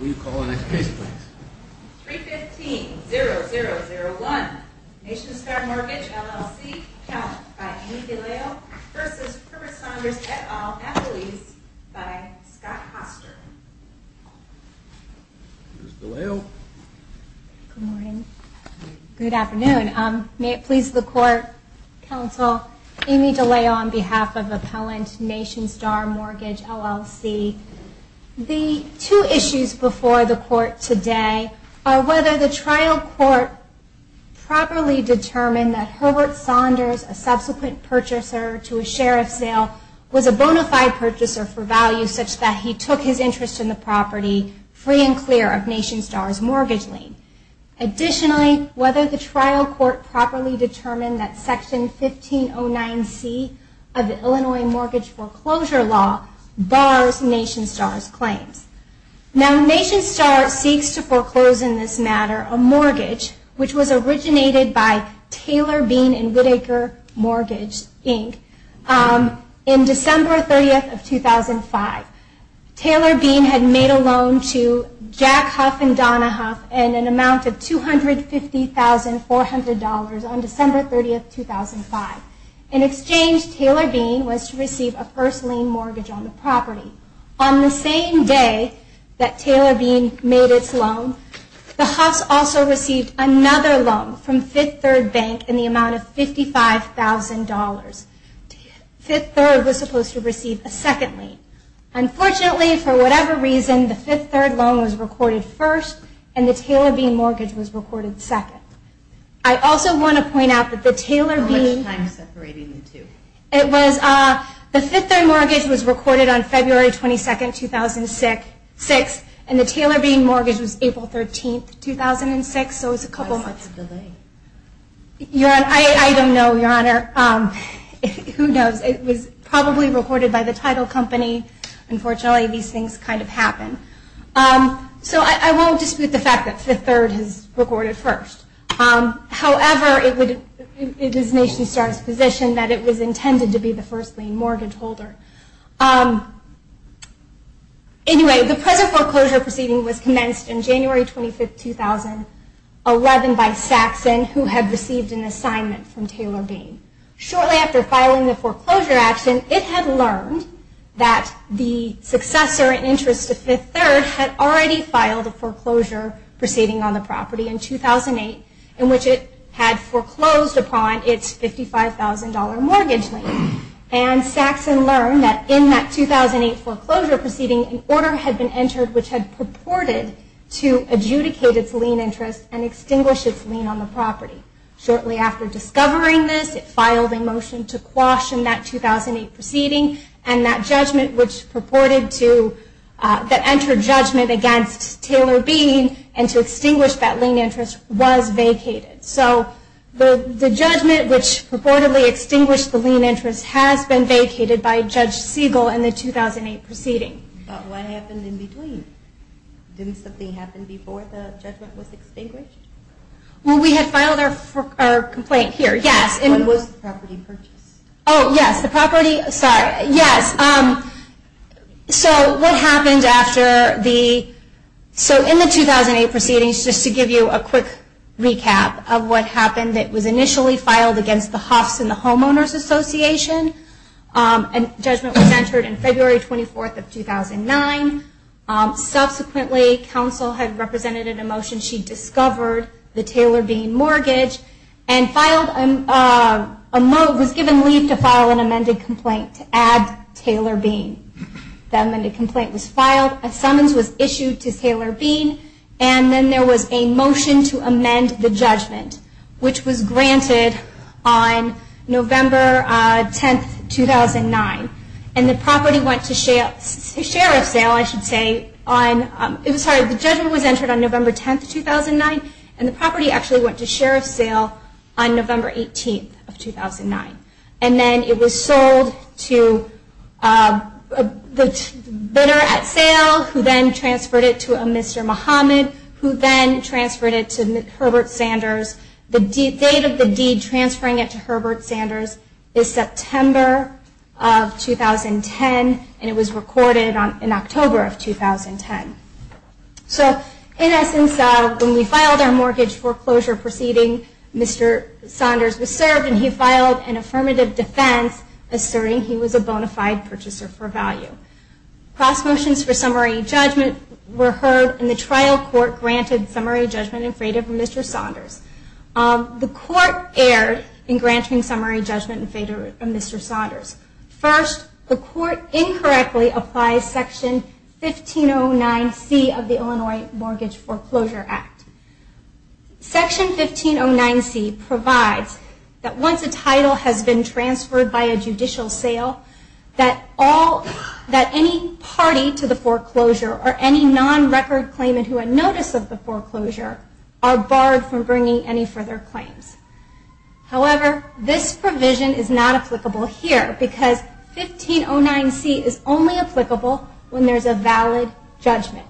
We call the next case please. 315-0001, Nationstar Mortgage LLC, count by Amy DeLeo v. Herbert Saunders et al. athletes by Scott Hoster. Here's DeLeo. Good morning. Good afternoon. May it please the court, counsel, Amy DeLeo on behalf of appellant Nationstar Mortgage LLC. The two issues before the court today are whether the trial court properly determined that Herbert Saunders, a subsequent purchaser to a sheriff's sale, was a bona fide purchaser for value such that he took his interest in the property free and clear of Nationstar's mortgage lien. Additionally, whether the trial court properly determined that Section 1509C of the Illinois Mortgage Foreclosure Law bars Nationstar's claims. Now Nationstar seeks to foreclose in this matter a mortgage which was originated by Taylor Bean and Whitaker Mortgage, Inc. in December 30th of 2005. Taylor Bean had made a loan to Jack Huff and Donna Huff in an amount of $250,400 on December 30th, 2005. In exchange, Taylor Bean was to receive a first lien mortgage on the property. On the same day that Taylor Bean made its loan, the Huffs also received another loan from Fifth Third Bank in the amount of $55,000. Fifth Third was supposed to receive a second lien. Unfortunately, for whatever reason, the Fifth Third loan was recorded first and the Taylor Bean mortgage was recorded second. I also want to point out that the Taylor Bean... How much time separating the two? The Fifth Third mortgage was recorded on February 22nd, 2006, and the Taylor Bean mortgage was April 13th, 2006, so it was a couple months. Why such a delay? I don't know, Your Honor. Who knows? It was probably recorded by the title company. Unfortunately, these things kind of happen. So I won't dispute the fact that Fifth Third is recorded first. However, it is Nation Star's position that it was intended to be the first lien mortgage holder. Anyway, the present foreclosure proceeding was commenced on January 25th, 2011 by Saxon, who had received an assignment from Taylor Bean. Shortly after filing the foreclosure action, it had learned that the successor in interest to Fifth Third had already filed a foreclosure proceeding on the property in 2008, in which it had foreclosed upon its $55,000 mortgage lien. And Saxon learned that in that 2008 foreclosure proceeding, an order had been entered which had purported to adjudicate its lien interest and extinguish its lien on the property. Shortly after discovering this, it filed a motion to caution that 2008 proceeding and that judgment which purported to, that entered judgment against Taylor Bean and to extinguish that lien interest was vacated. So the judgment which purportedly extinguished the lien interest has been vacated by Judge Siegel in the 2008 proceeding. But what happened in between? Didn't something happen before the judgment was extinguished? Well, we had filed our complaint here, yes. When was the property purchased? Oh, yes, the property, sorry, yes. So what happened after the, so in the 2008 proceedings, just to give you a quick recap of what happened, it was initially filed against the Hoffs and the Homeowners Association, and judgment was entered in February 24th of 2009. Subsequently, counsel had represented in a motion, she discovered the Taylor Bean mortgage and filed, was given leave to file an amended complaint to add Taylor Bean. The amended complaint was filed, a summons was issued to Taylor Bean, and then there was a motion to And the property went to sheriff sale, I should say, on, sorry, the judgment was entered on November 10th, 2009, and the property actually went to sheriff sale on November 18th of 2009. And then it was sold to the bidder at sale, who then transferred it to a Mr. Muhammad, who then transferred it to Herbert Sanders. The date of the deed transferring it to Herbert Sanders is September of 2010, and it was recorded in October of 2010. So in essence, when we filed our mortgage foreclosure proceeding, Mr. Saunders was served, and he filed an affirmative defense, asserting he was a bona fide purchaser for value. Cross motions for summary judgment were heard, and the trial court granted summary judgment in favor of Mr. Saunders. The court erred in granting summary judgment in favor of Mr. Saunders. First, the court incorrectly applies Section 1509C of the Illinois Mortgage Foreclosure Act. Section 1509C provides that once a title has been transferred by a judicial sale, that any party to the foreclosure or any non-record claimant who had notice of the provision is not applicable here, because 1509C is only applicable when there is a valid judgment.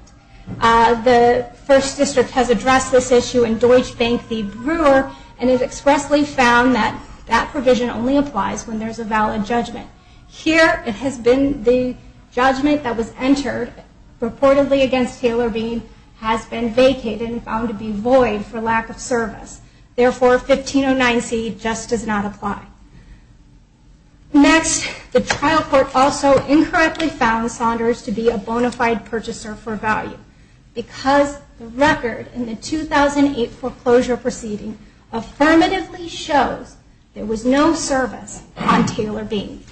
The First District has addressed this issue in Deutsche Bank v. Brewer, and it expressly found that that provision only applies when there is a valid judgment. Here, it has been the judgment that was entered purportedly against Taylor Bean has been vacated and found to be void for lack of service. Therefore, 1509C just does not apply. Next, the trial court also incorrectly found Saunders to be a bona fide purchaser for value, because the record in the 2008 foreclosure proceeding affirmatively shows there was no service on Taylor Bean.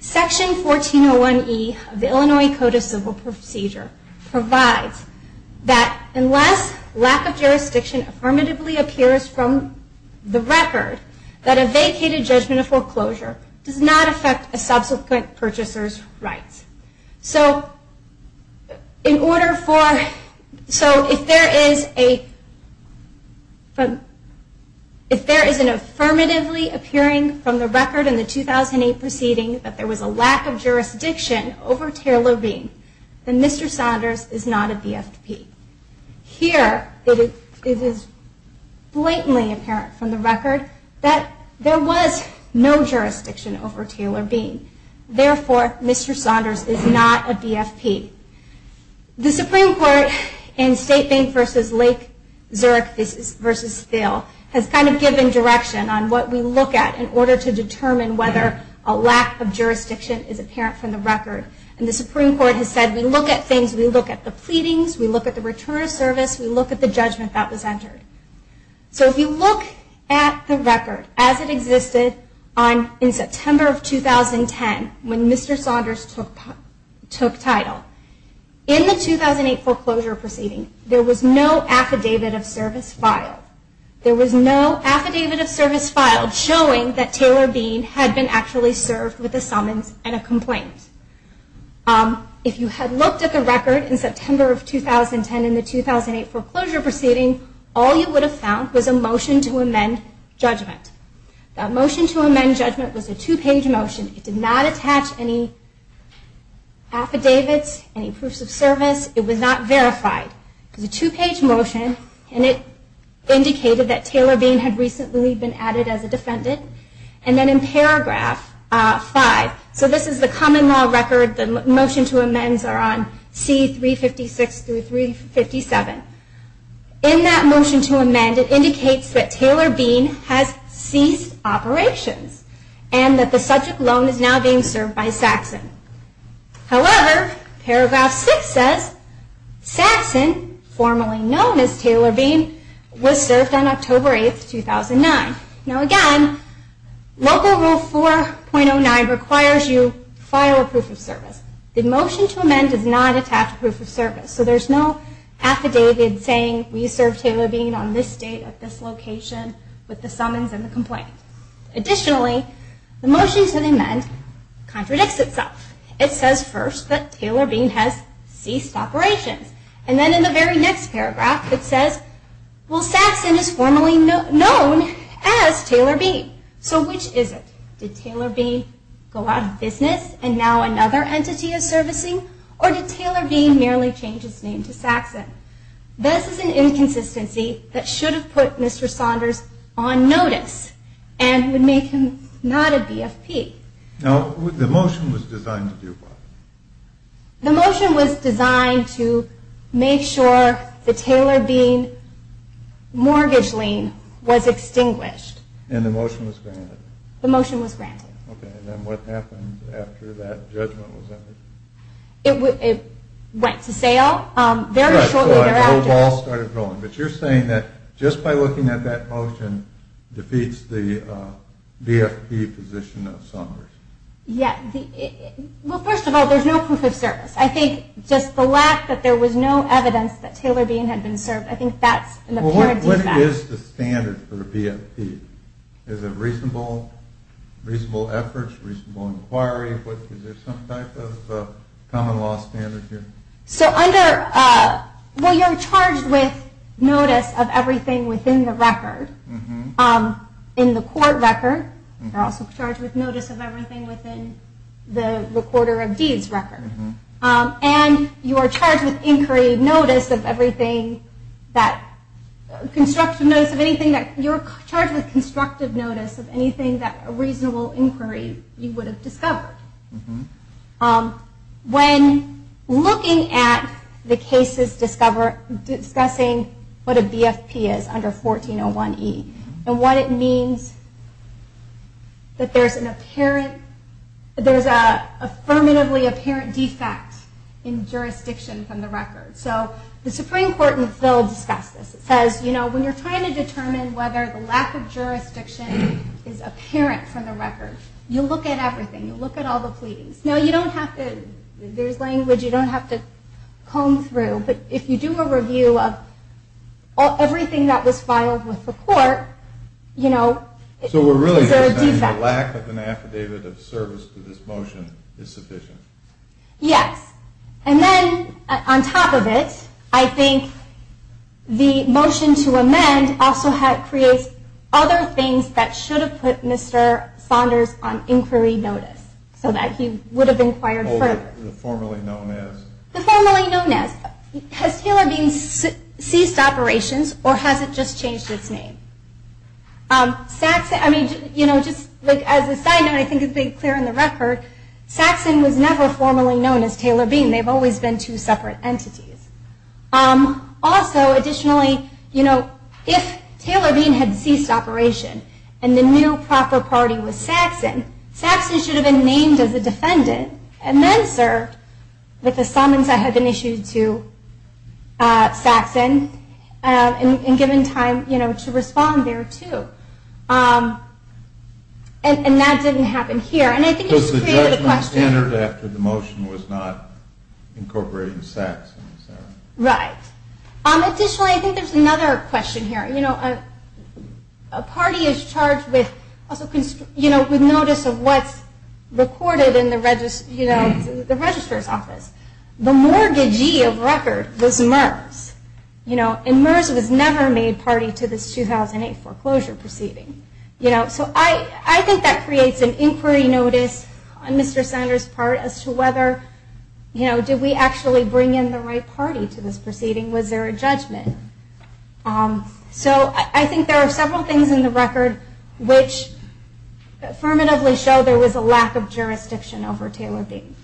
Section 1401E of the Illinois Code of Civil Procedure provides that unless lack of jurisdiction affirmatively appears from the record, that a vacated judgment of foreclosure does not affect a subsequent purchaser's rights. So if there is an affirmatively appearing from the record in the 2008 proceeding that there was a lack of jurisdiction over Taylor Bean, then Mr. Saunders is not a BFP. Here, it is blatantly apparent from the record that there was no jurisdiction over Taylor Bean. Therefore, Mr. Saunders is not a BFP. The Supreme Court in State Bank v. Lake Zurich v. Thiel has kind of given direction on what we look at in order to determine whether a lack of jurisdiction is apparent from the record. And the Supreme Court has said we look at things, we look at the pleadings, we look at the return of service, we look at the judgment that was entered. So if you look at the record as it existed in September of 2010, when Mr. Saunders took title, in the 2008 foreclosure proceeding, there was no affidavit of service filed. There was no affidavit of service filed showing that Taylor Bean had been actually served with a summons and a complaint. If you had looked at the record in September of 2010 in the 2008 foreclosure proceeding, all you would have found was a motion to amend judgment. That motion to amend judgment was a two-page motion. It did not attach any affidavits, any proofs of service. It was not verified. It was a two-page motion and it indicated that Taylor Bean had recently been added as a defendant. And then in paragraph 5, so this is the common law record, the motion to amends are on C356-357. In that motion to amend, it indicates that Taylor Bean served by Saxon. However, paragraph 6 says, Saxon, formerly known as Taylor Bean, was served on October 8, 2009. Now again, Local Rule 4.09 requires you to file a proof of service. The motion to amend does not attach proof of service. So there's no affidavit saying we served Taylor Bean on this date at this location with the summons and the complaint. Additionally, the motion to amend contradicts itself. It says first that Taylor Bean has ceased operations. And then in the very next paragraph, it says, well, Saxon is formerly known as Taylor Bean. So which is it? Did Taylor Bean go out of business and now another entity is servicing? Or did Taylor Bean merely change his name to Saxon? This is an inconsistency that should have put Mr. Saunders on notice and would make him not a BFP. Now, the motion was designed to do what? The motion was designed to make sure the Taylor Bean mortgage lien was extinguished. And the motion was granted? The motion was granted. Okay. And then what happened after that judgment was entered? It went to sale very shortly thereafter. But you're saying that just by looking at that motion defeats the BFP position of Saunders. Yeah. Well, first of all, there's no proof of service. I think just the lack that there was no evidence that Taylor Bean had been served, I think that's an apparent defect. Well, what is the standard for a BFP? Is it reasonable efforts, reasonable inquiry? Is there some type of common law standard here? Well, you're charged with notice of everything within the record. In the court record, you're also charged with notice of everything within the recorder of deeds record. And you're charged with constructive notice of anything that a reasonable inquiry you would have discovered. When looking at the cases discussing what a BFP is under 1401E and what it means that there's an apparent, there's an affirmatively apparent defect in jurisdiction from the record. So the Supreme Court in the field discussed this. It says, you know, when you're trying to determine whether the lack of jurisdiction is apparent from the record, you look at everything. You look at all the pleadings. Now, you don't have to, there's language you don't have to comb through. But if you do a review of everything that was filed with the court, you know, it's a defect. So we're really saying the lack of an affidavit of service to this motion is sufficient? Yes. And then on top of it, I think the motion to amend also creates other things that should have put Mr. Saunders on inquiry notice so that he would have inquired further. The formerly known as? The formerly known as. Has Taylor Bean ceased operations or has it just changed its name? Saxon, I mean, you know, just as a side note, I think it's been clear in the record, Saxon was never formerly known as Taylor Bean. They've always been two separate entities. Also, additionally, you know, if Taylor Bean had ceased operation and the new proper party was Saxon, Saxon should have been named as a defendant and then served with the summons that had been issued to Saxon and given time, you know, to respond there, too. And that didn't happen here. And I think it just created a question. He entered after the motion was not incorporating Saxon. Right. Additionally, I think there's another question here. You know, a party is charged with notice of what's recorded in the registrar's office. The mortgagee of record was MERS, you know, and MERS was never made party to this 2008 foreclosure proceeding. You know, so I think that creates an inquiry notice on Mr. Sanders' part as to whether, you know, did we actually bring in the right party to this proceeding? Was there a judgment? So I think there are several things in the record which affirmatively show there was a lack of jurisdiction over Taylor Bean.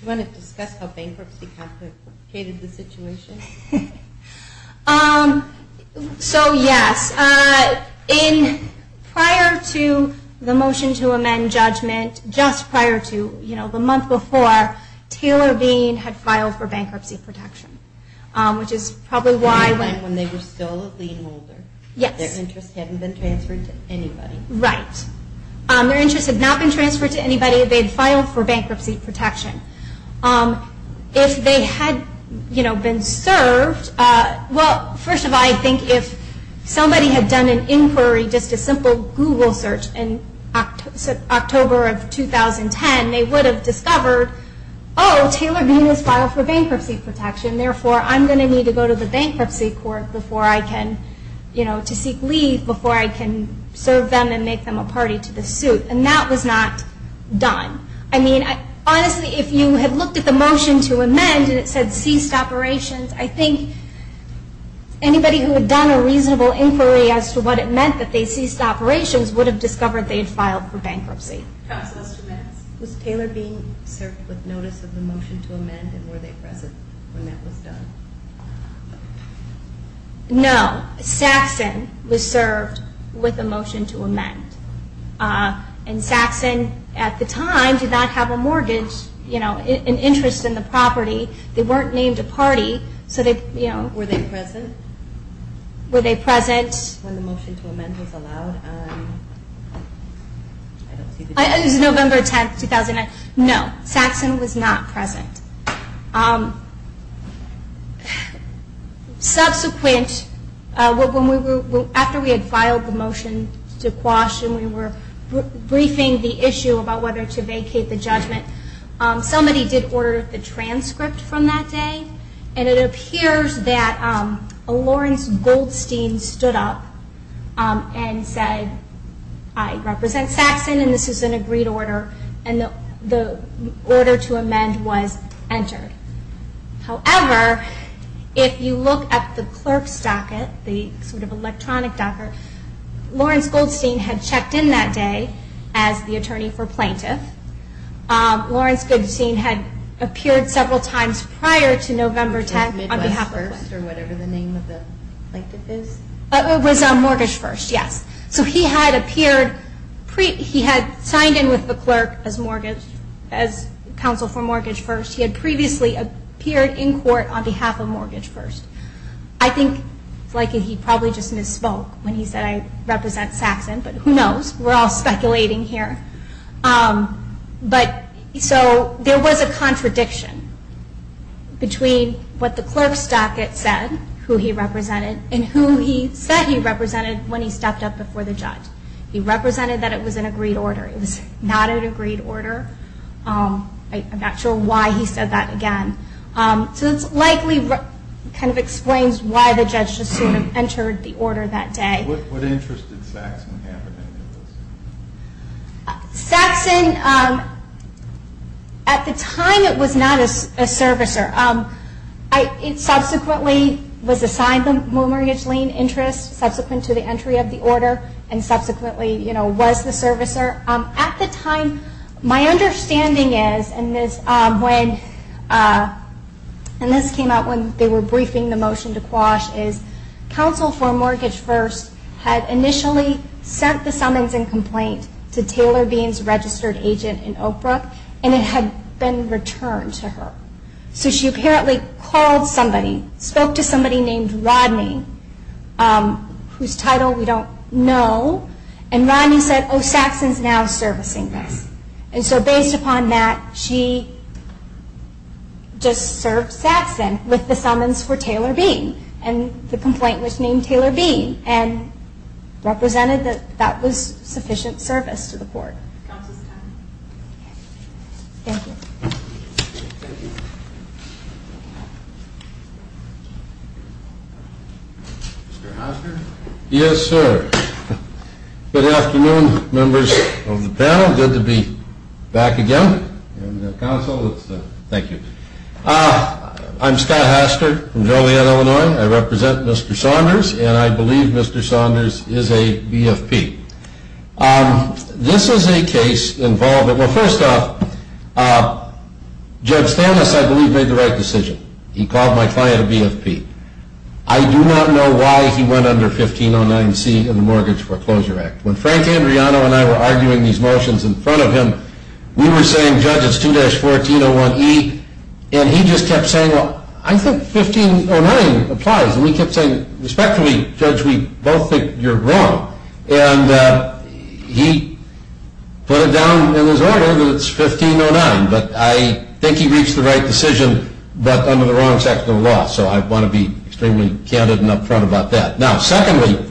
Do you want to discuss how bankruptcy complicated the situation? So, yes. In prior to the motion to amend judgment, just prior to, you know, the month before, Taylor Bean had filed for bankruptcy protection, which is probably why. When they were still a lien holder. Yes. Their interest hadn't been transferred to anybody. Right. Their interest had not been transferred to anybody. They had filed for bankruptcy protection. If they had, you know, been served, well, first of all, I think if somebody had done an inquiry, just a simple Google search in October of 2010, they would have discovered, oh, Taylor Bean has filed for bankruptcy protection, therefore I'm going to need to go to the bankruptcy court before I can, you know, to seek leave before I can serve them and make them a party to this suit. And that was not done. I mean, honestly, if you had looked at the motion to amend and it said ceased operations, I think anybody who had done a reasonable inquiry as to what it meant that they ceased operations would have discovered they had filed for bankruptcy. Counsel, just two minutes. Was Taylor Bean served with notice of the motion to amend and were they present when that was done? No. Saxon was served with a motion to amend. And Saxon at the time did not have a mortgage, you know, an interest in the property. They weren't named a party, so they, you know. Were they present? Were they present? When the motion to amend was allowed. It was November 10th, 2009. No. Saxon was not present. Subsequent, after we had filed the motion to quash and we were briefing the issue about whether to vacate the judgment, somebody did order the transcript from that day. And it appears that Lawrence Goldstein stood up and said, I represent Saxon and this is an agreed order. And the order to amend was entered. However, if you look at the clerk's docket, the sort of electronic docket, Lawrence Goldstein had checked in that day as the attorney for plaintiff. Lawrence Goldstein had appeared several times prior to November 10th. Which was Midwest First or whatever the name of the plaintiff is? It was Mortgage First, yes. So he had appeared, he had signed in with the clerk as counsel for Mortgage First. He had previously appeared in court on behalf of Mortgage First. I think he probably just misspoke when he said, I represent Saxon. But who knows? We're all speculating here. But so there was a contradiction between what the clerk's docket said, who he represented for the judge. He represented that it was an agreed order. It was not an agreed order. I'm not sure why he said that again. So this likely kind of explains why the judge just sort of entered the order that day. What interest did Saxon have in any of this? Saxon, at the time it was not a servicer. It subsequently was assigned the mortgage lien interest subsequent to the entry of the order and subsequently was the servicer. At the time, my understanding is, and this came out when they were briefing the motion to quash, is counsel for Mortgage First had initially sent the summons and complaint to Taylor Bean's registered agent in Oak Brook and it had been returned to her. So she apparently called somebody, spoke to somebody named Rodney, whose title we don't know, and Rodney said, oh, Saxon's now servicing this. And so based upon that, she just served Saxon with the summons for Taylor Bean and the complaint was named Taylor Bean and represented that that was sufficient service to the court. Thank you. Mr. Hastert? Yes, sir. Good afternoon, members of the panel. Good to be back again. Thank you. I'm Scott Hastert from Joliet, Illinois. I represent Mr. Saunders and I believe Mr. Saunders is a BFP. This is a case involving, well, first off, Judge Stanis, I believe, made the right decision. He called my client a BFP. I do not know why he went under 1509C in the Mortgage Foreclosure Act. When Frank Andreano and I were arguing these motions in front of him, we were saying, Judge, it's 2-1401E, and he just kept saying, well, I think 1509 applies. And we kept saying, respectfully, Judge, we both think you're wrong. And he put it down in his order that it's 1509, but I think he reached the right decision but under the wrong section of the law, so I want to be extremely candid and upfront about that. Now, secondly,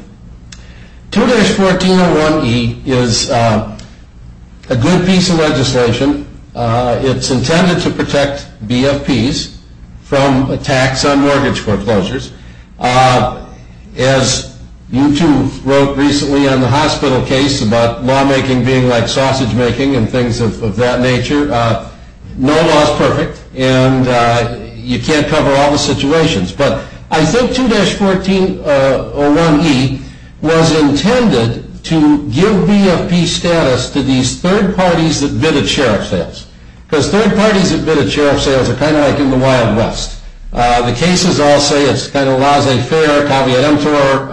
2-1401E is a good piece of legislation. It's intended to protect BFPs from attacks on mortgage foreclosures. As you two wrote recently on the hospital case about lawmaking being like sausage making and things of that nature, no law is perfect, and you can't cover all the situations. But I think 2-1401E was intended to give BFP status to these third parties that bid at sheriff sales, because third parties that bid at sheriff sales are kind of like in the Wild West. The cases all say it's kind of laissez-faire, caveat emptor.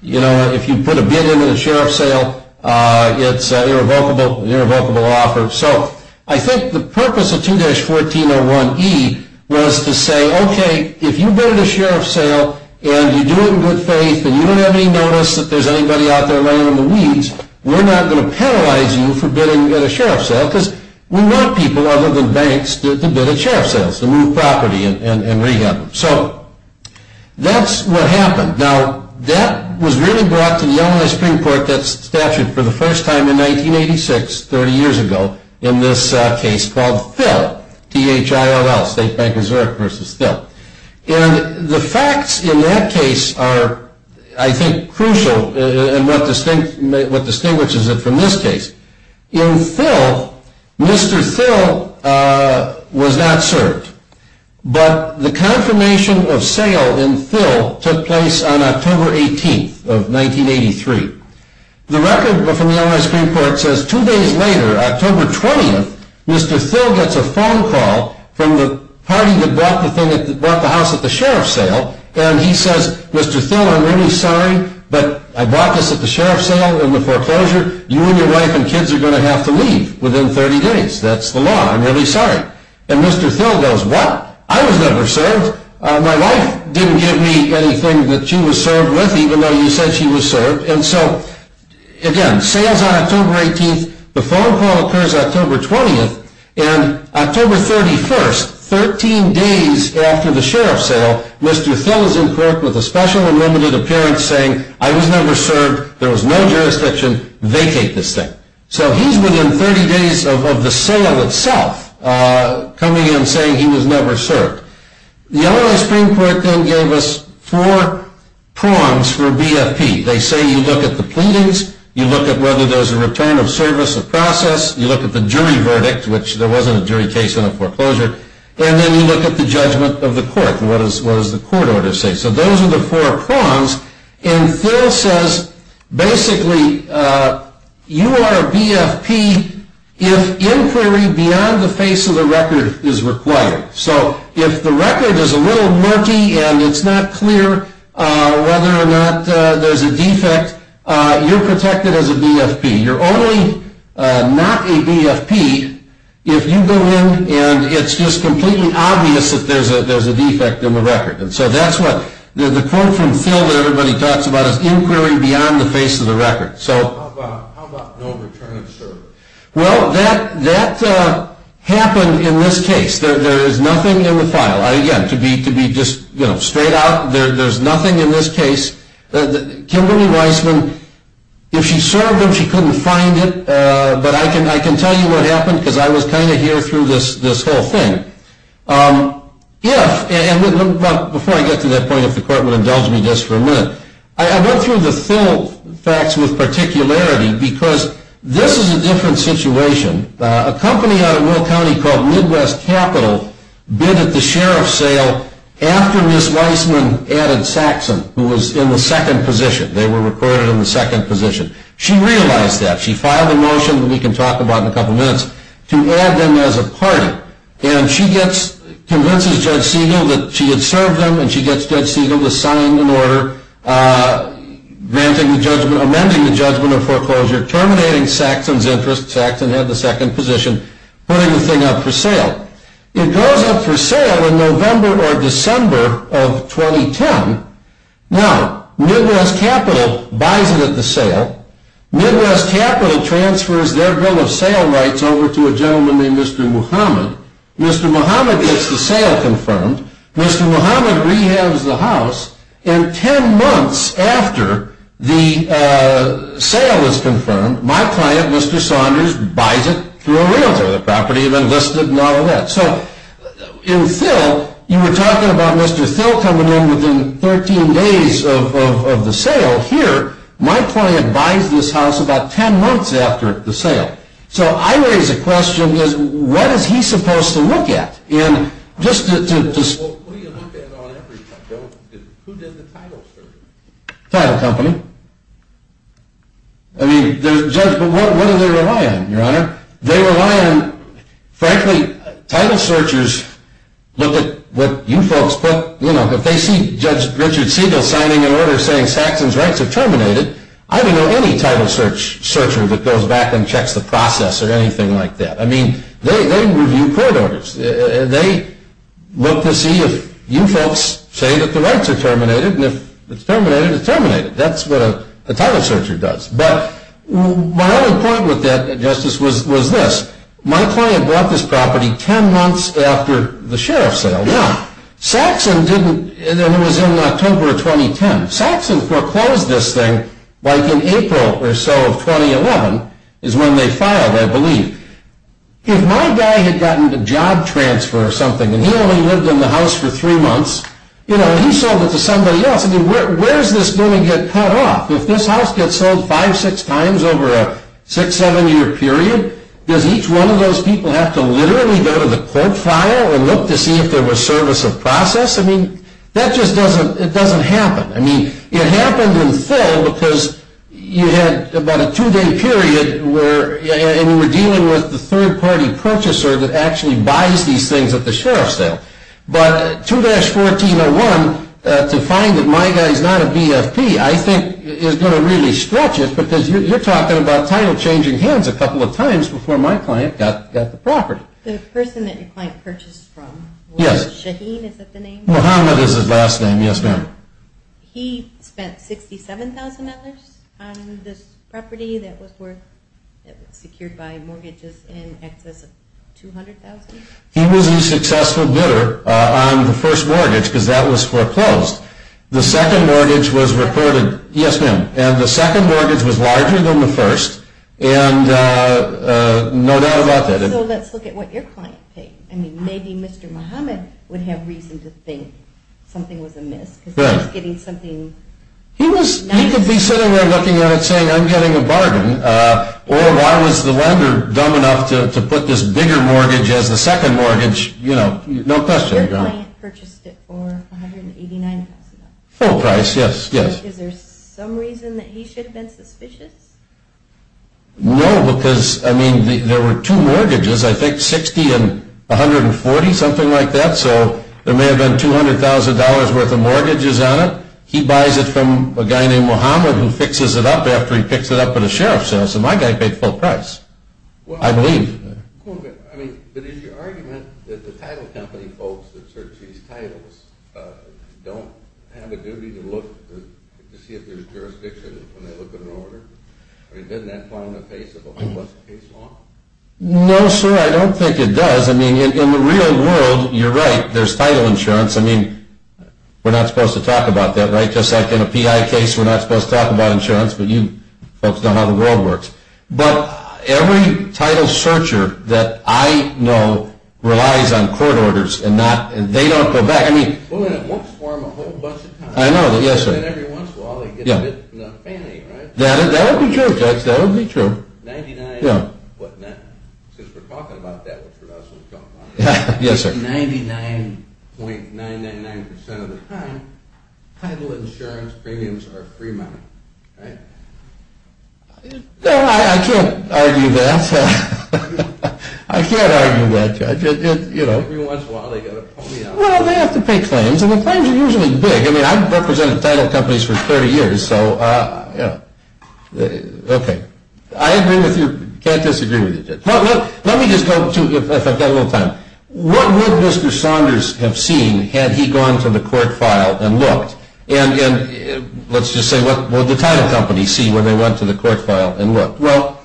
You know, if you put a bid in at a sheriff sale, it's an irrevocable offer. So I think the purpose of 2-1401E was to say, okay, if you bid at a sheriff sale and you do it in good faith and you don't have any notice that there's anybody out there laying on the weeds, we're not going to penalize you for bidding at a sheriff sale, because we want people other than banks to bid at sheriff sales, to move property and rehab them. So that's what happened. Now, that was really brought to the Illinois Supreme Court, that statute, for the first time in 1986, 30 years ago, in this case called Thill, T-H-I-L-L, State Bank of Zurich versus Thill. And the facts in that case are, I think, crucial, and what distinguishes it from this case. In Thill, Mr. Thill was not served. But the confirmation of sale in Thill took place on October 18th of 1983. The record from the Illinois Supreme Court says two days later, October 20th, Mr. Thill gets a phone call from the party that bought the house at the sheriff sale, and he says, Mr. Thill, I'm really sorry, but I bought this at the sheriff sale in the foreclosure. You and your wife and kids are going to have to leave within 30 days. That's the law. I'm really sorry. And Mr. Thill goes, what? I was never served. My wife didn't give me anything that she was served with, even though you said she was served. And so, again, sale's on October 18th. The phone call occurs October 20th. And October 31st, 13 days after the sheriff sale, Mr. Thill is in court with a special and limited appearance saying, I was never served, there was no jurisdiction, vacate this thing. So he's within 30 days of the sale itself coming in saying he was never served. The Illinois Supreme Court then gave us four prongs for BFP. They say you look at the pleadings, you look at whether there's a return of service or process, you look at the jury verdict, which there wasn't a jury case in the foreclosure, and then you look at the judgment of the court, what does the court order say. So those are the four prongs. And Thill says, basically, you are a BFP if inquiry beyond the face of the record is required. So if the record is a little murky and it's not clear whether or not there's a defect, you're protected as a BFP. You're only not a BFP if you go in and it's just completely obvious that there's a defect in the record. So that's what the quote from Thill that everybody talks about is inquiry beyond the face of the record. So how about no return of service? Well, that happened in this case. There is nothing in the file. Again, to be just straight out, there's nothing in this case. Kimberly Weisman, if she served him, she couldn't find it. But I can tell you what happened because I was kind of here through this whole thing. Before I get to that point, if the court would indulge me just for a minute, I went through the Thill facts with particularity because this is a different situation. A company out of Will County called Midwest Capital bid at the sheriff's sale after Ms. Weisman added Saxon, who was in the second position. They were recorded in the second position. She realized that. She filed a motion that we can talk about in a couple minutes to add them as a party. And she convinces Judge Siegel that she had served them, and she gets Judge Siegel to sign an order amending the judgment of foreclosure, terminating Saxon's interest. Saxon had the second position, putting the thing up for sale. It goes up for sale in November or December of 2010. Now, Midwest Capital buys it at the sale. Midwest Capital transfers their bill of sale rights over to a gentleman named Mr. Muhammad. Mr. Muhammad gets the sale confirmed. Mr. Muhammad rehabs the house. And ten months after the sale is confirmed, my client, Mr. Saunders, buys it through a realtor. The property had been listed and all of that. So in Thill, you were talking about Mr. Thill coming in within 13 days of the sale. Well, here, my client buys this house about ten months after the sale. So I raise a question, what is he supposed to look at? Who did the title search? Title company. But what do they rely on, Your Honor? They rely on, frankly, title searchers look at what you folks put. If they see Judge Richard Siegel signing an order saying Saxon's rights are terminated, I don't know any title searcher that goes back and checks the process or anything like that. I mean, they review court orders. They look to see if you folks say that the rights are terminated. And if it's terminated, it's terminated. That's what a title searcher does. But my only point with that, Justice, was this. My client bought this property ten months after the sheriff's sale. Yeah. Saxon didn't. And it was in October of 2010. Saxon foreclosed this thing like in April or so of 2011 is when they filed, I believe. If my guy had gotten a job transfer or something and he only lived in the house for three months, you know, he sold it to somebody else. I mean, where does this building get cut off? If this house gets sold five, six times over a six-, seven-year period, does each one of those people have to literally go to the court file and look to see if there was service of process? I mean, that just doesn't happen. I mean, it happened in full because you had about a two-day period and you were dealing with the third-party purchaser that actually buys these things at the sheriff's sale. But 2-1401, to find that my guy is not a BFP, I think is going to really stretch it because you're talking about title changing hands a couple of times before my client got the property. The person that your client purchased from was Shaheen, is that the name? Muhammad is his last name, yes, ma'am. He spent $67,000 on this property that was secured by mortgages in excess of $200,000? He was a successful bidder on the first mortgage because that was foreclosed. The second mortgage was reported, yes, ma'am, and the second mortgage was larger than the first, and no doubt about that. So let's look at what your client paid. I mean, maybe Mr. Muhammad would have reason to think something was amiss because he was getting something nice. He could be sitting there looking at it saying, I'm getting a bargain, or why was the lender dumb enough to put this bigger mortgage as the second mortgage? You know, no question. Your client purchased it for $189,000? Full price, yes, yes. Is there some reason that he should have been suspicious? No, because, I mean, there were two mortgages, I think, $60,000 and $140,000, something like that, so there may have been $200,000 worth of mortgages on it. He buys it from a guy named Muhammad who fixes it up after he picks it up at a sheriff's house, so my guy paid full price, I believe. I mean, but is your argument that the title company folks that search these titles don't have a duty to look to see if there's jurisdiction when they look at an order? I mean, doesn't that fall in the face of a holistic case law? No, sir, I don't think it does. I mean, in the real world, you're right, there's title insurance. I mean, we're not supposed to talk about that, right? Just like in a PI case, we're not supposed to talk about insurance, but you folks know how the world works. But every title searcher that I know relies on court orders, and they don't go back. I mean, once for a whole bunch of times. I know, yes, sir. Every once in a while, they get a bit fanny, right? That would be true, Judge, that would be true. 99, what, 99? Since we're talking about that, which we're not supposed to talk about. Yes, sir. 99.999% of the time, title insurance premiums are free money, right? No, I can't argue that. I can't argue that, Judge. Every once in a while, they get a pony out. Well, they have to pay claims, and the claims are usually big. I mean, I've represented title companies for 30 years, so, you know, okay. I agree with you, can't disagree with you, Judge. Let me just go to, if I've got a little time, what would Mr. Saunders have seen had he gone to the court file and looked? And let's just say, what would the title company see when they went to the court file and looked? Well,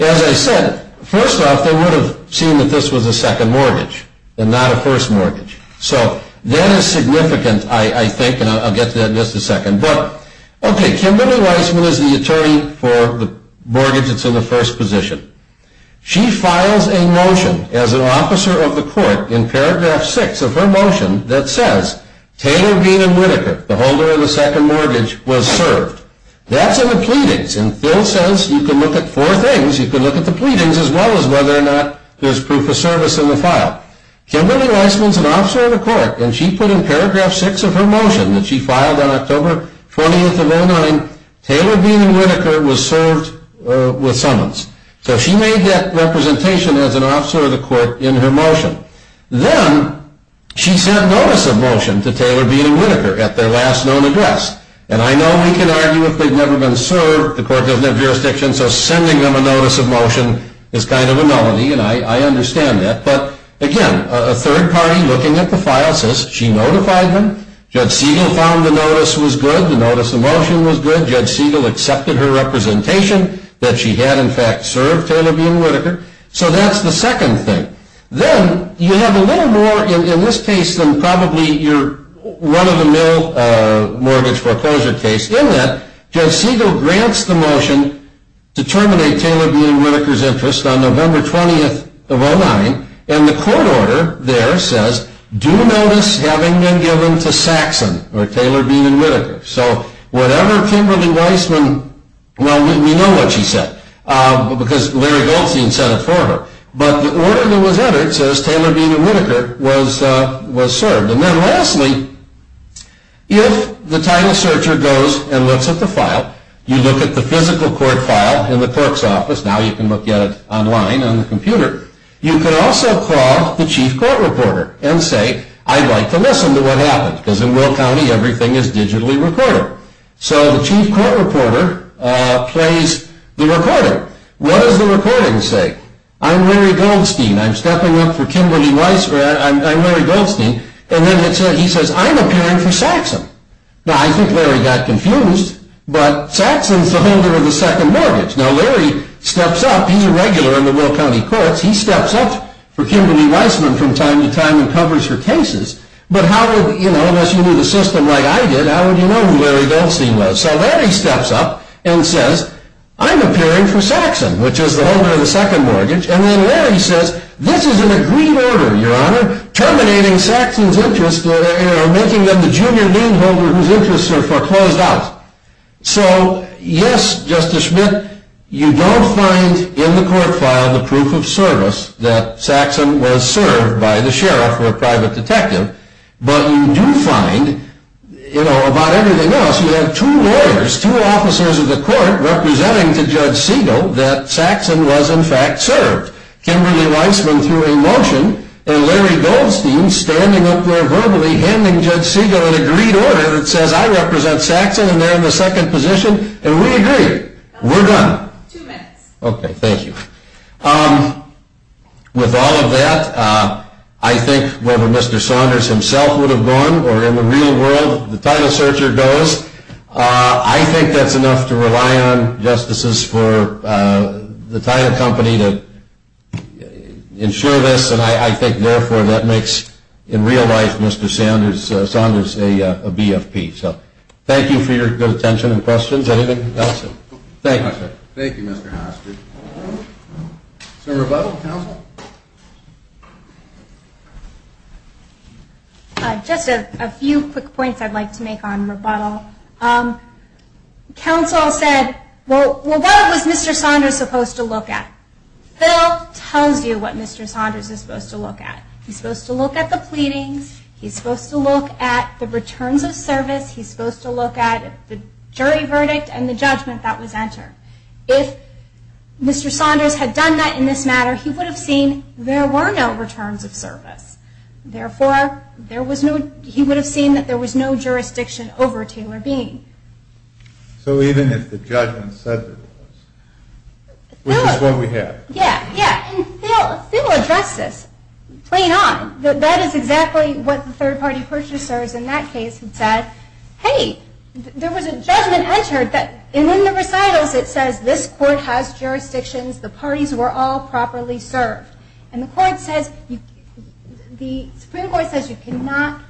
as I said, first off, they would have seen that this was a second mortgage and not a first mortgage. So that is significant, I think, and I'll get to that in just a second. But, okay, Kimberly Weisman is the attorney for the mortgage that's in the first position. She files a motion as an officer of the court in paragraph 6 of her motion that says, Taylor Bean and Whitaker, the holder of the second mortgage, was served. That's in the pleadings, and Phil says you can look at four things. You can look at the pleadings as well as whether or not there's proof of service in the file. Kimberly Weisman is an officer of the court, and she put in paragraph 6 of her motion that she filed on October 20th of 2009, Taylor Bean and Whitaker was served with summons. So she made that representation as an officer of the court in her motion. Then she sent notice of motion to Taylor Bean and Whitaker at their last known address. And I know we can argue if they've never been served, the court doesn't have jurisdiction, so sending them a notice of motion is kind of a novelty, and I understand that. But, again, a third party looking at the file says she notified them. Judge Siegel found the notice was good, the notice of motion was good. Judge Siegel accepted her representation that she had, in fact, served Taylor Bean and Whitaker. So that's the second thing. Then you have a little more in this case than probably your run-of-the-mill mortgage foreclosure case in that Judge Siegel grants the motion to terminate Taylor Bean and Whitaker's interest on November 20th of 2009, and the court order there says, do notice having been given to Saxon or Taylor Bean and Whitaker. So whatever Kimberly Weisman, well, we know what she said, because Larry Goldstein said it for her. But the order that was entered says Taylor Bean and Whitaker was served. And then, lastly, if the title searcher goes and looks at the file, you look at the physical court file in the clerk's office, now you can look at it online on the computer, you can also call the chief court reporter and say, I'd like to listen to what happened, because in Will County everything is digitally recorded. So the chief court reporter plays the recording. What does the recording say? I'm Larry Goldstein. I'm stepping up for Kimberly Weisman. I'm Larry Goldstein. And then he says, I'm appearing for Saxon. Now, I think Larry got confused, but Saxon is the holder of the second mortgage. Now, Larry steps up. He's a regular in the Will County courts. He steps up for Kimberly Weisman from time to time and covers her cases. But how would, you know, unless you knew the system like I did, how would you know who Larry Goldstein was? So Larry steps up and says, I'm appearing for Saxon, which is the holder of the second mortgage. And then Larry says, this is an agreed order, Your Honor, terminating Saxon's interest or making him the junior lien holder whose interests are foreclosed out. So, yes, Justice Schmidt, you don't find in the court file the proof of service that Saxon was served by the sheriff or a private detective, but you do find, you know, about everything else, you have two lawyers, two officers of the court representing to Judge Segal that Saxon was in fact served. Kimberly Weisman threw a motion and Larry Goldstein standing up there verbally handing Judge Segal an agreed order that says I represent Saxon and they're in the second position and we agree. We're done. Two minutes. Okay, thank you. With all of that, I think whether Mr. Saunders himself would have gone or in the real world, the title searcher goes. I think that's enough to rely on, Justices, for the title company to ensure this and I think therefore that makes in real life Mr. Saunders a BFP. So thank you for your good attention and questions. Anything else? Thank you. Thank you, Mr. Hastert. Is there a rebuttal, counsel? Just a few quick points I'd like to make on rebuttal. Counsel said, well, what was Mr. Saunders supposed to look at? Bill tells you what Mr. Saunders is supposed to look at. He's supposed to look at the pleadings. He's supposed to look at the returns of service. He's supposed to look at the jury verdict and the judgment that was entered. If Mr. Saunders had done that in this matter, he would have seen there were no returns of service. Therefore, he would have seen that there was no jurisdiction over Taylor Bean. So even if the judgment said there was, which is what we have. Yeah, yeah, and Bill addressed this plain on. That is exactly what the third-party purchasers in that case had said, Hey, there was a judgment entered, and in the recitals it says this court has jurisdictions, the parties were all properly served. And the Supreme Court says you cannot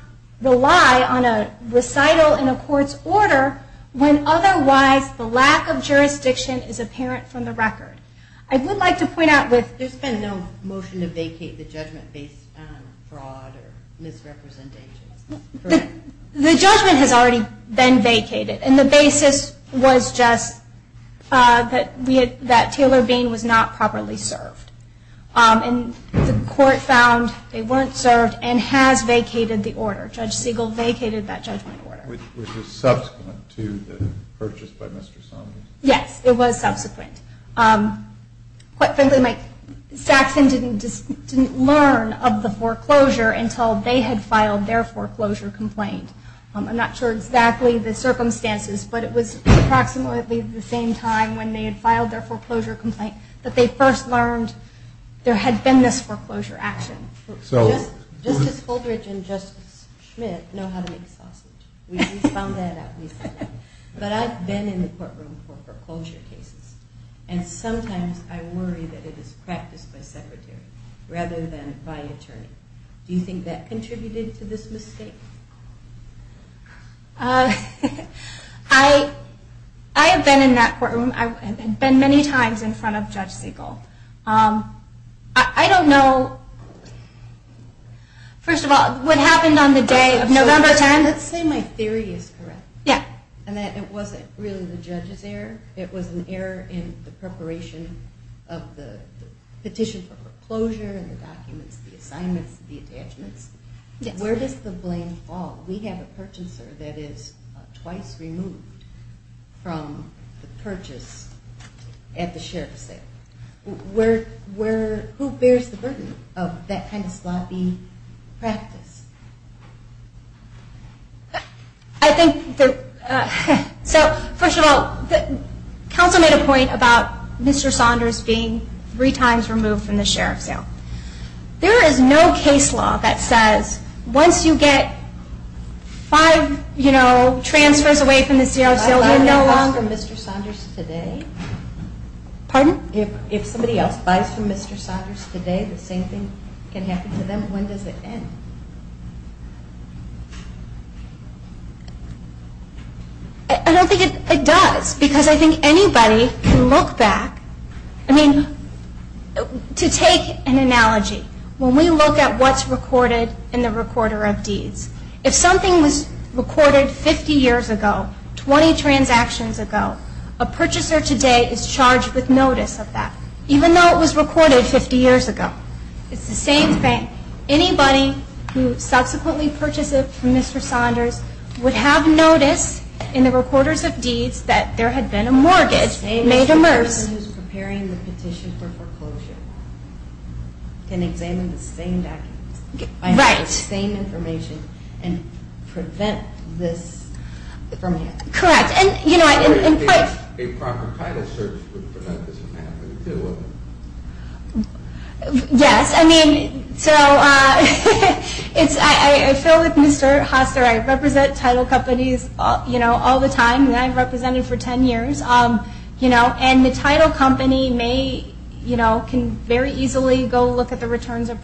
rely on a recital in a court's order when otherwise the lack of jurisdiction is apparent from the record. I would like to point out with There's been no motion to vacate the judgment based on fraud or misrepresentation. The judgment has already been vacated, and the basis was just that Taylor Bean was not properly served. And the court found they weren't served and has vacated the order. Judge Siegel vacated that judgment order. Which was subsequent to the purchase by Mr. Saunders. Yes, it was subsequent. Quite frankly, Saxon didn't learn of the foreclosure until they had filed their foreclosure complaint. I'm not sure exactly the circumstances, but it was approximately the same time when they had filed their foreclosure complaint that they first learned there had been this foreclosure action. Justice Holdridge and Justice Schmidt know how to make sausage. We found that out recently. But I've been in the courtroom for foreclosure cases. And sometimes I worry that it is practiced by secretary rather than by attorney. Do you think that contributed to this mistake? I have been in that courtroom. I've been many times in front of Judge Siegel. I don't know, first of all, what happened on the day of November 10th. Let's say my theory is correct. It wasn't really the judge's error. It was an error in the preparation of the petition for foreclosure and the documents, the assignments, the attachments. Where does the blame fall? We have a purchaser that is twice removed from the purchase at the sheriff's sale. Who bears the burden of that kind of sloppy practice? First of all, counsel made a point about Mr. Saunders being three times removed from the sheriff's sale. There is no case law that says once you get five transfers away from the sheriff's sale, you're no longer Mr. Saunders today. If somebody else buys from Mr. Saunders today, the same thing can happen to them. And when does it end? I don't think it does because I think anybody can look back. I mean, to take an analogy, when we look at what's recorded in the recorder of deeds, if something was recorded 50 years ago, 20 transactions ago, a purchaser today is charged with notice of that, even though it was recorded 50 years ago. It's the same thing. Anybody who subsequently purchases from Mr. Saunders would have notice in the recorders of deeds that there had been a mortgage made amers. The same person who's preparing the petition for foreclosure can examine the same documents. Right. I have the same information and prevent this from happening. Correct. And, you know, I... A proper title search would prevent this from happening too, wouldn't it? Yes. I mean, so it's... I feel like Mr. Hoster, I represent title companies, you know, all the time, and I've represented for 10 years, you know, and the title company may, you know, can very easily go look at the returns of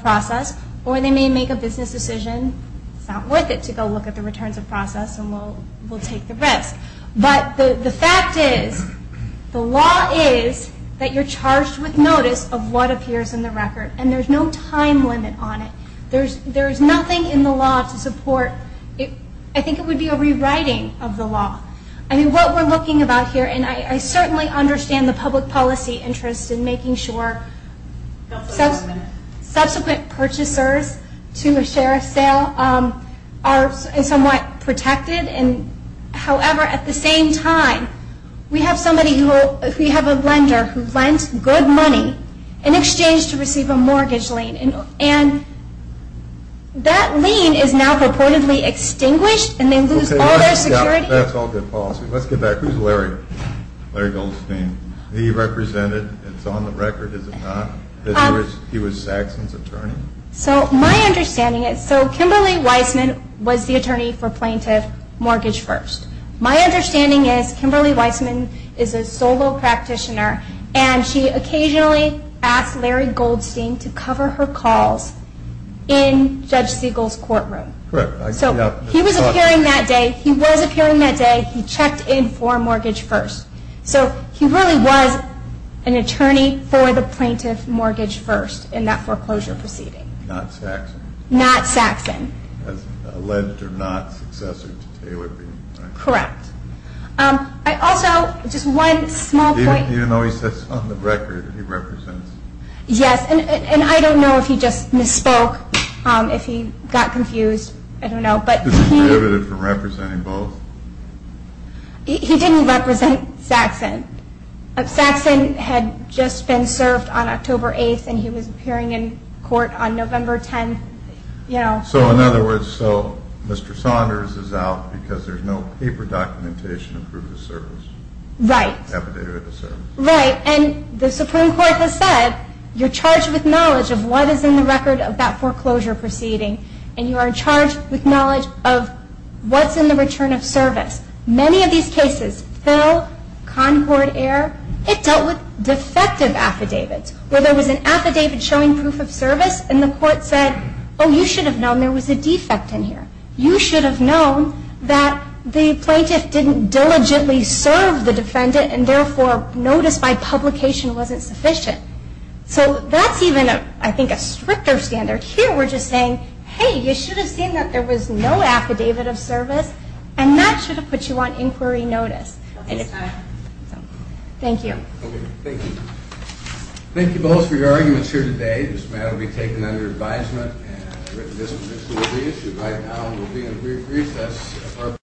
process or they may make a business decision, it's not worth it to go look at the returns of process and we'll take the risk. But the fact is, the law is that you're charged with notice of what appears in the record and there's no time limit on it. There's nothing in the law to support... I think it would be a rewriting of the law. I mean, what we're looking about here, and I certainly understand the public policy interest in making sure subsequent purchasers to a share of sale are somewhat protected. However, at the same time, we have somebody who... we have a lender who lends good money in exchange to receive a mortgage lien and that lien is now reportedly extinguished and they lose all their security. That's all good policy. Let's get back. Who's Larry? Larry Goldstein. He represented, it's on the record, is it not, that he was Saxon's attorney? So my understanding is, so Kimberly Weissman was the attorney for plaintiff mortgage first. My understanding is Kimberly Weissman is a solo practitioner and she occasionally asked Larry Goldstein to cover her calls in Judge Siegel's courtroom. Correct. So he was appearing that day. He was appearing that day. He checked in for mortgage first. So he really was an attorney for the plaintiff mortgage first in that foreclosure proceeding. Not Saxon. Not Saxon. Alleged or not successor to Taylor Bean. Correct. I also, just one small point. Even though he says it's on the record, he represents. Yes, and I don't know if he just misspoke, if he got confused. I don't know. Is he prohibited from representing both? He didn't represent Saxon. Saxon had just been served on October 8th and he was appearing in court on November 10th. So in other words, so Mr. Saunders is out because there's no paper documentation to prove his service. Right. Right, and the Supreme Court has said, you're charged with knowledge of what is in the record of that foreclosure proceeding and you are charged with knowledge of what's in the return of service. Many of these cases, Phil, Concord Air, it dealt with defective affidavits. Where there was an affidavit showing proof of service and the court said, oh, you should have known there was a defect in here. You should have known that the plaintiff didn't diligently serve the defendant and therefore notice by publication wasn't sufficient. So that's even, I think, a stricter standard. Here we're just saying, hey, you should have seen that there was no affidavit of service and that should have put you on inquiry notice. Thank you. Okay, thank you. Thank you both for your arguments here today. This matter will be taken under advisement. This issue right now will be in recess.